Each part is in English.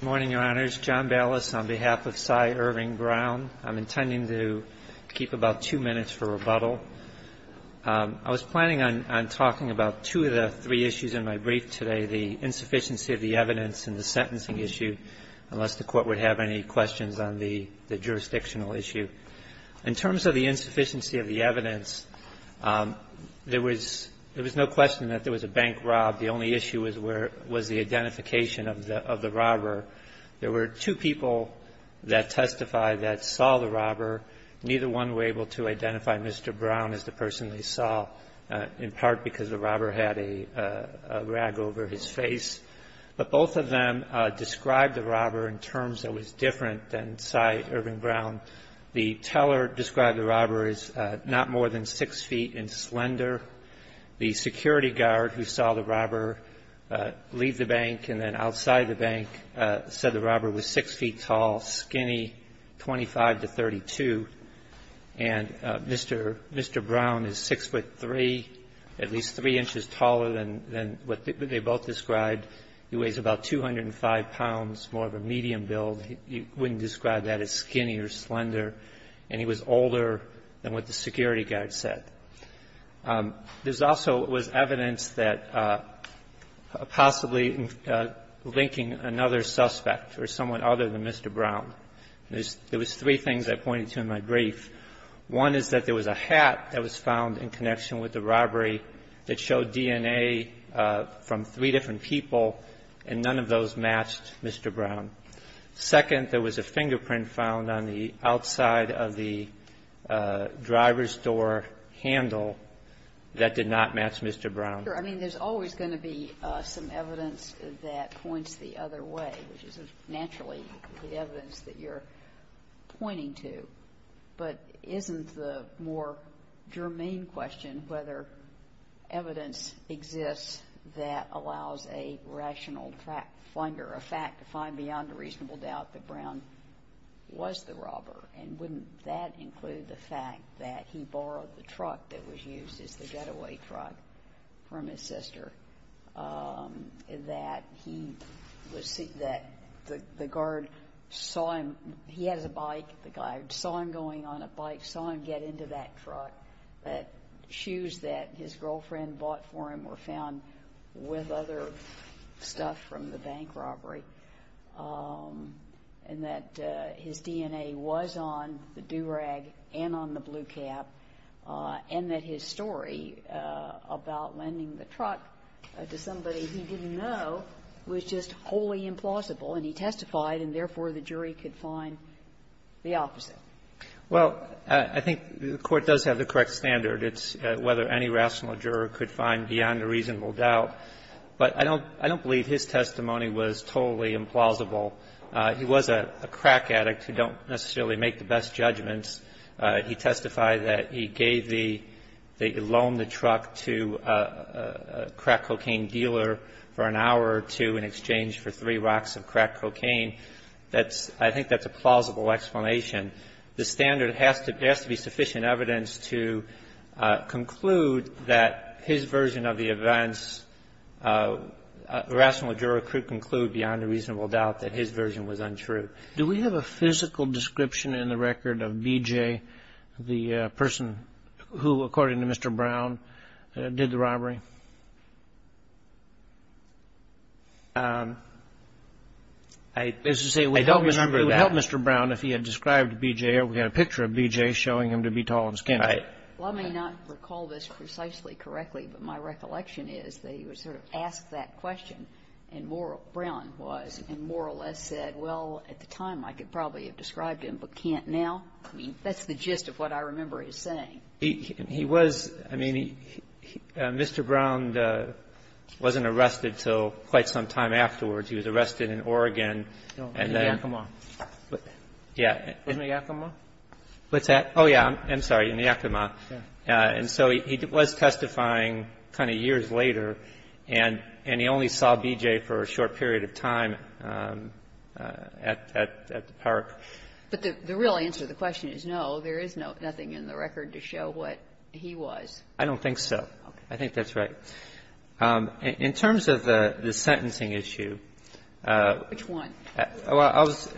Morning, Your Honors. John Ballas on behalf of Cy Irving Brown. I'm intending to keep about two minutes for rebuttal. I was planning on talking about two of the three issues in my brief today, the insufficiency of the evidence and the sentencing issue, unless the Court would have any questions on the jurisdictional issue. In terms of the insufficiency of the evidence, there was no question that there was a bank rob. The only issue was the identification of the robber. There were two people that testified that saw the robber. Neither one were able to identify Mr. Brown as the person they saw, in part because the robber had a rag over his face. But both of them described the robber in terms that was different than Cy Irving Brown. The teller described the robber as not more than six feet in slender. The security guard who saw the robber leave the bank and then outside the bank said the robber was six feet tall, skinny, 25 to 32. And Mr. Brown is six foot three, at least three inches taller than what they both described. He weighs about 205 pounds, more of a medium build. You wouldn't describe that as skinny or slender. And he was older than what the security guard said. There's also was evidence that possibly linking another suspect or someone other than Mr. Brown. There was three things I pointed to in my brief. One is that there was a hat that was found in connection with the robbery that showed DNA from three different people, and none of those matched Mr. Brown. Second, there was a fingerprint found on the outside of the driver's door handle that did not match Mr. Brown. I mean, there's always going to be some evidence that points the other way, which is naturally the evidence that you're pointing to. But isn't the more germane question whether evidence exists that allows a rational finder of fact to find beyond a reasonable doubt that Brown was the robber? And wouldn't that include the fact that he borrowed the truck that was used as the getaway truck from his sister, that the guard saw him, he has a bike, the guard saw him going on a bike, saw him get into that truck, that shoes that his girlfriend bought for him were found with other stuff from the bank robbery, and that his DNA was on the do-rag and on the blue cap, and that his story about lending the truck to somebody he didn't know was just wholly implausible, and he testified, and therefore the jury could find the opposite? Well, I think the Court does have the correct standard. It's whether any rational juror could find beyond a reasonable doubt. But I don't believe his testimony was totally implausible. He was a crack addict who don't necessarily make the best judgments. He testified that he gave the loaned truck to a crack cocaine dealer for an hour or two in exchange for three rocks of crack cocaine. I think that's a plausible explanation. The standard has to be sufficient evidence to conclude that his version of the events, a rational juror could conclude beyond a reasonable doubt that his version was untrue. Do we have a physical description in the record of BJ, the person who, according to Mr. Brown, did the robbery? I don't remember that. Mr. Brown, if he had described BJ, or we had a picture of BJ showing him to be tall and skinny. Right. Well, I may not recall this precisely correctly, but my recollection is that he was sort of asked that question, and Brown was, and more or less said, well, at the time, I could probably have described him, but can't now? I mean, that's the gist of what I remember him saying. He was, I mean, Mr. Brown wasn't arrested until quite some time afterwards. He was arrested in Oregon. No, in Yakima. Yeah. Wasn't it Yakima? What's that? Oh, yeah. I'm sorry. In Yakima. And so he was testifying kind of years later, and he only saw BJ for a short period of time at the park. But the real answer to the question is no, there is nothing in the record to show what he was. I don't think so. I think that's right. In terms of the sentencing issue. Which one?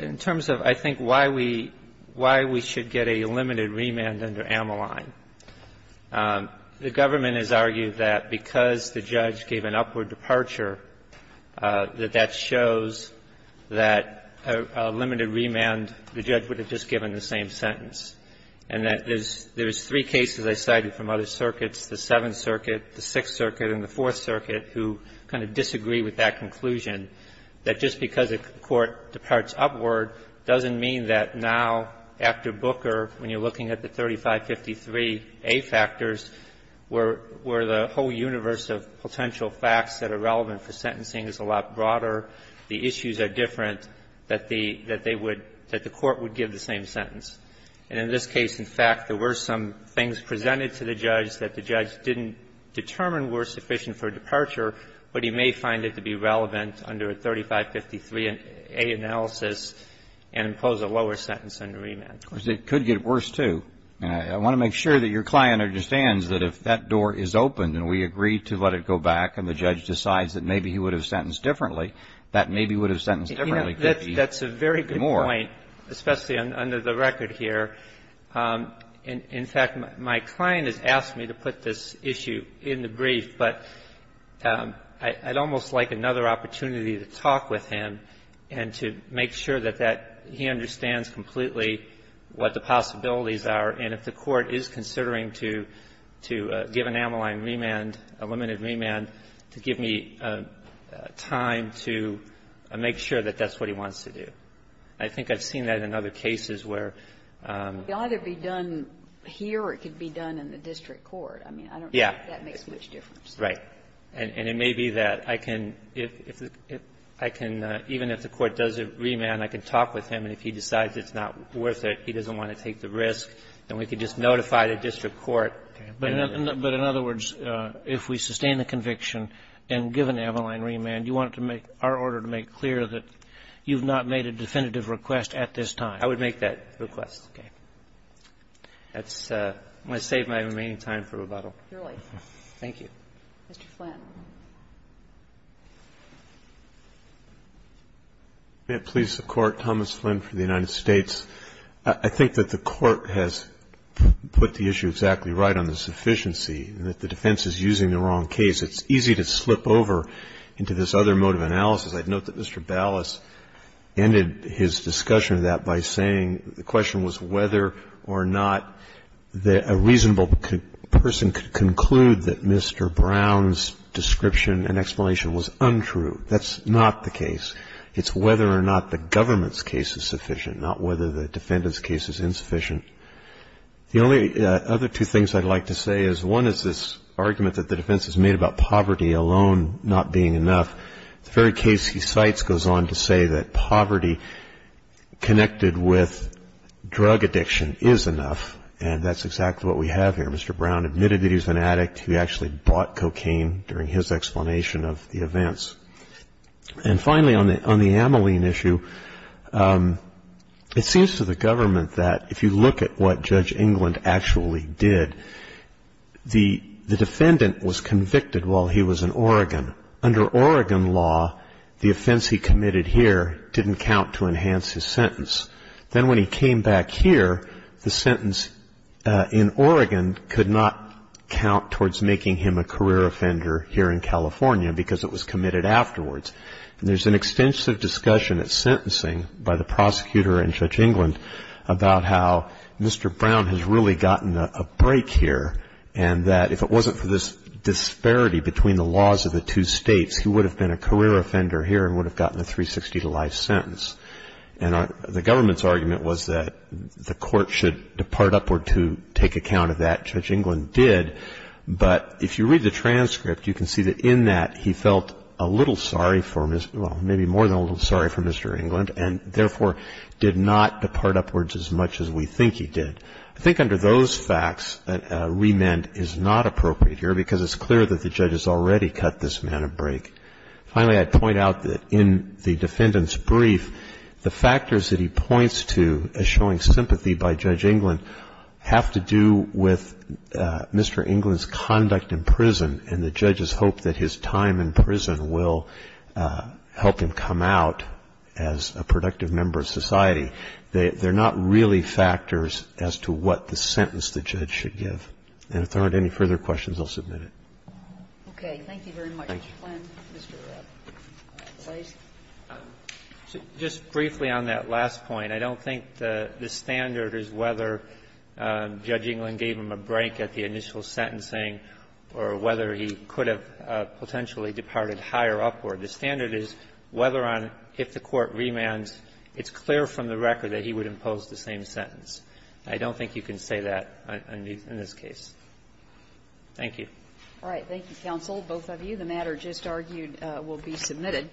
In terms of, I think, why we should get a limited remand under Ameline, the government has argued that because the judge gave an upward departure, that that shows that a limited remand, the judge would have just given the same sentence, and that there is three cases I cited from other circuits, the Seventh Circuit, the Sixth Circuit and the Fourth Circuit, who kind of disagree with that conclusion, that just because a court departs upward doesn't mean that now, after Booker, when you're looking at the 3553A factors, where the whole universe of potential facts that are relevant for sentencing is a lot broader, the issues are different, that the Court would give the same sentence. And in this case, in fact, there were some things presented to the judge that the judge didn't determine were sufficient for departure, but he may find it to be relevant under a 3553A analysis and impose a lower sentence under remand. Of course, it could get worse, too. I want to make sure that your client understands that if that door is open and we agree to let it go back and the judge decides that maybe he would have sentenced differently, that maybe he would have sentenced differently. That's a very good point, especially under the record here. In fact, my client has asked me to put this issue in the brief, but I'd almost like another opportunity to talk with him and to make sure that that he understands completely what the possibilities are. And if the Court is considering to give an amyline remand, a limited remand, to give me time to make sure that that's what he wants to do. I think I've seen that in other cases where the other be done here or it could be done in the district court. I mean, I don't think that makes much difference. Right. And it may be that I can, if I can, even if the Court does a remand, I can talk with him, and if he decides it's not worth it, he doesn't want to take the risk, then we can just notify the district court. But in other words, if we sustain the conviction and give an amyline remand, you want to make our order to make clear that you've not made a definitive request at this time. I would make that request. Okay. That's going to save my remaining time for rebuttal. Thank you. Mr. Flynn. May it please the Court, Thomas Flynn for the United States. I think that the Court has put the issue exactly right on the sufficiency and that the defense is using the wrong case. It's easy to slip over into this other mode of analysis. I'd note that Mr. Ballas ended his discussion of that by saying the question was whether or not a reasonable person could conclude that Mr. Brown's description and explanation was untrue. That's not the case. It's whether or not the government's case is sufficient, not whether the defendant's case is insufficient. The only other two things I'd like to say is one is this argument that the defense has made about poverty alone not being enough. The very case he cites goes on to say that poverty connected with drug addiction is enough, and that's exactly what we have here. Mr. Brown admitted that he was an addict. He actually bought cocaine during his explanation of the events. And finally, on the Ameline issue, it seems to the government that if you look at what Judge England actually did, the defendant was convicted while he was in Oregon. Under Oregon law, the offense he committed here didn't count to enhance his sentence. Then when he came back here, the sentence in Oregon could not count towards making him a career offender here in California because it was committed afterwards. And there's an extensive discussion at sentencing by the prosecutor and Judge England about how Mr. Brown has really gotten a break here, and that if it wasn't for this disparity between the laws of the two states, he would have been a career offender here and would have gotten a 360-to-life sentence. And the government's argument was that the court should depart upward to take account of that, Judge England did, but if you read the transcript, you can see that in that he felt a little sorry for Mr. Well, maybe more than a little sorry for Mr. England, and therefore did not depart upwards as much as we think he did. I think under those facts, a remand is not appropriate here because it's clear that the judge has already cut this man a break. Finally, I'd point out that in the defendant's brief, the factors that he points to as showing sympathy by Judge England have to do with Mr. England's conduct in prison and the judge's hope that his time in prison will help him come out as a productive member of society. They're not really factors as to what the sentence the judge should give. And if there aren't any further questions, I'll submit it. Okay. Thank you very much. Thank you. Kagan. Just briefly on that last point, I don't think the standard is whether Judge England gave him a break at the initial sentencing or whether he could have potentially departed higher upward. The standard is whether on the court remands, it's clear from the record that he would impose the same sentence. I don't think you can say that in this case. Thank you. All right. Thank you, counsel. Both of you. The matter just argued will be submitted.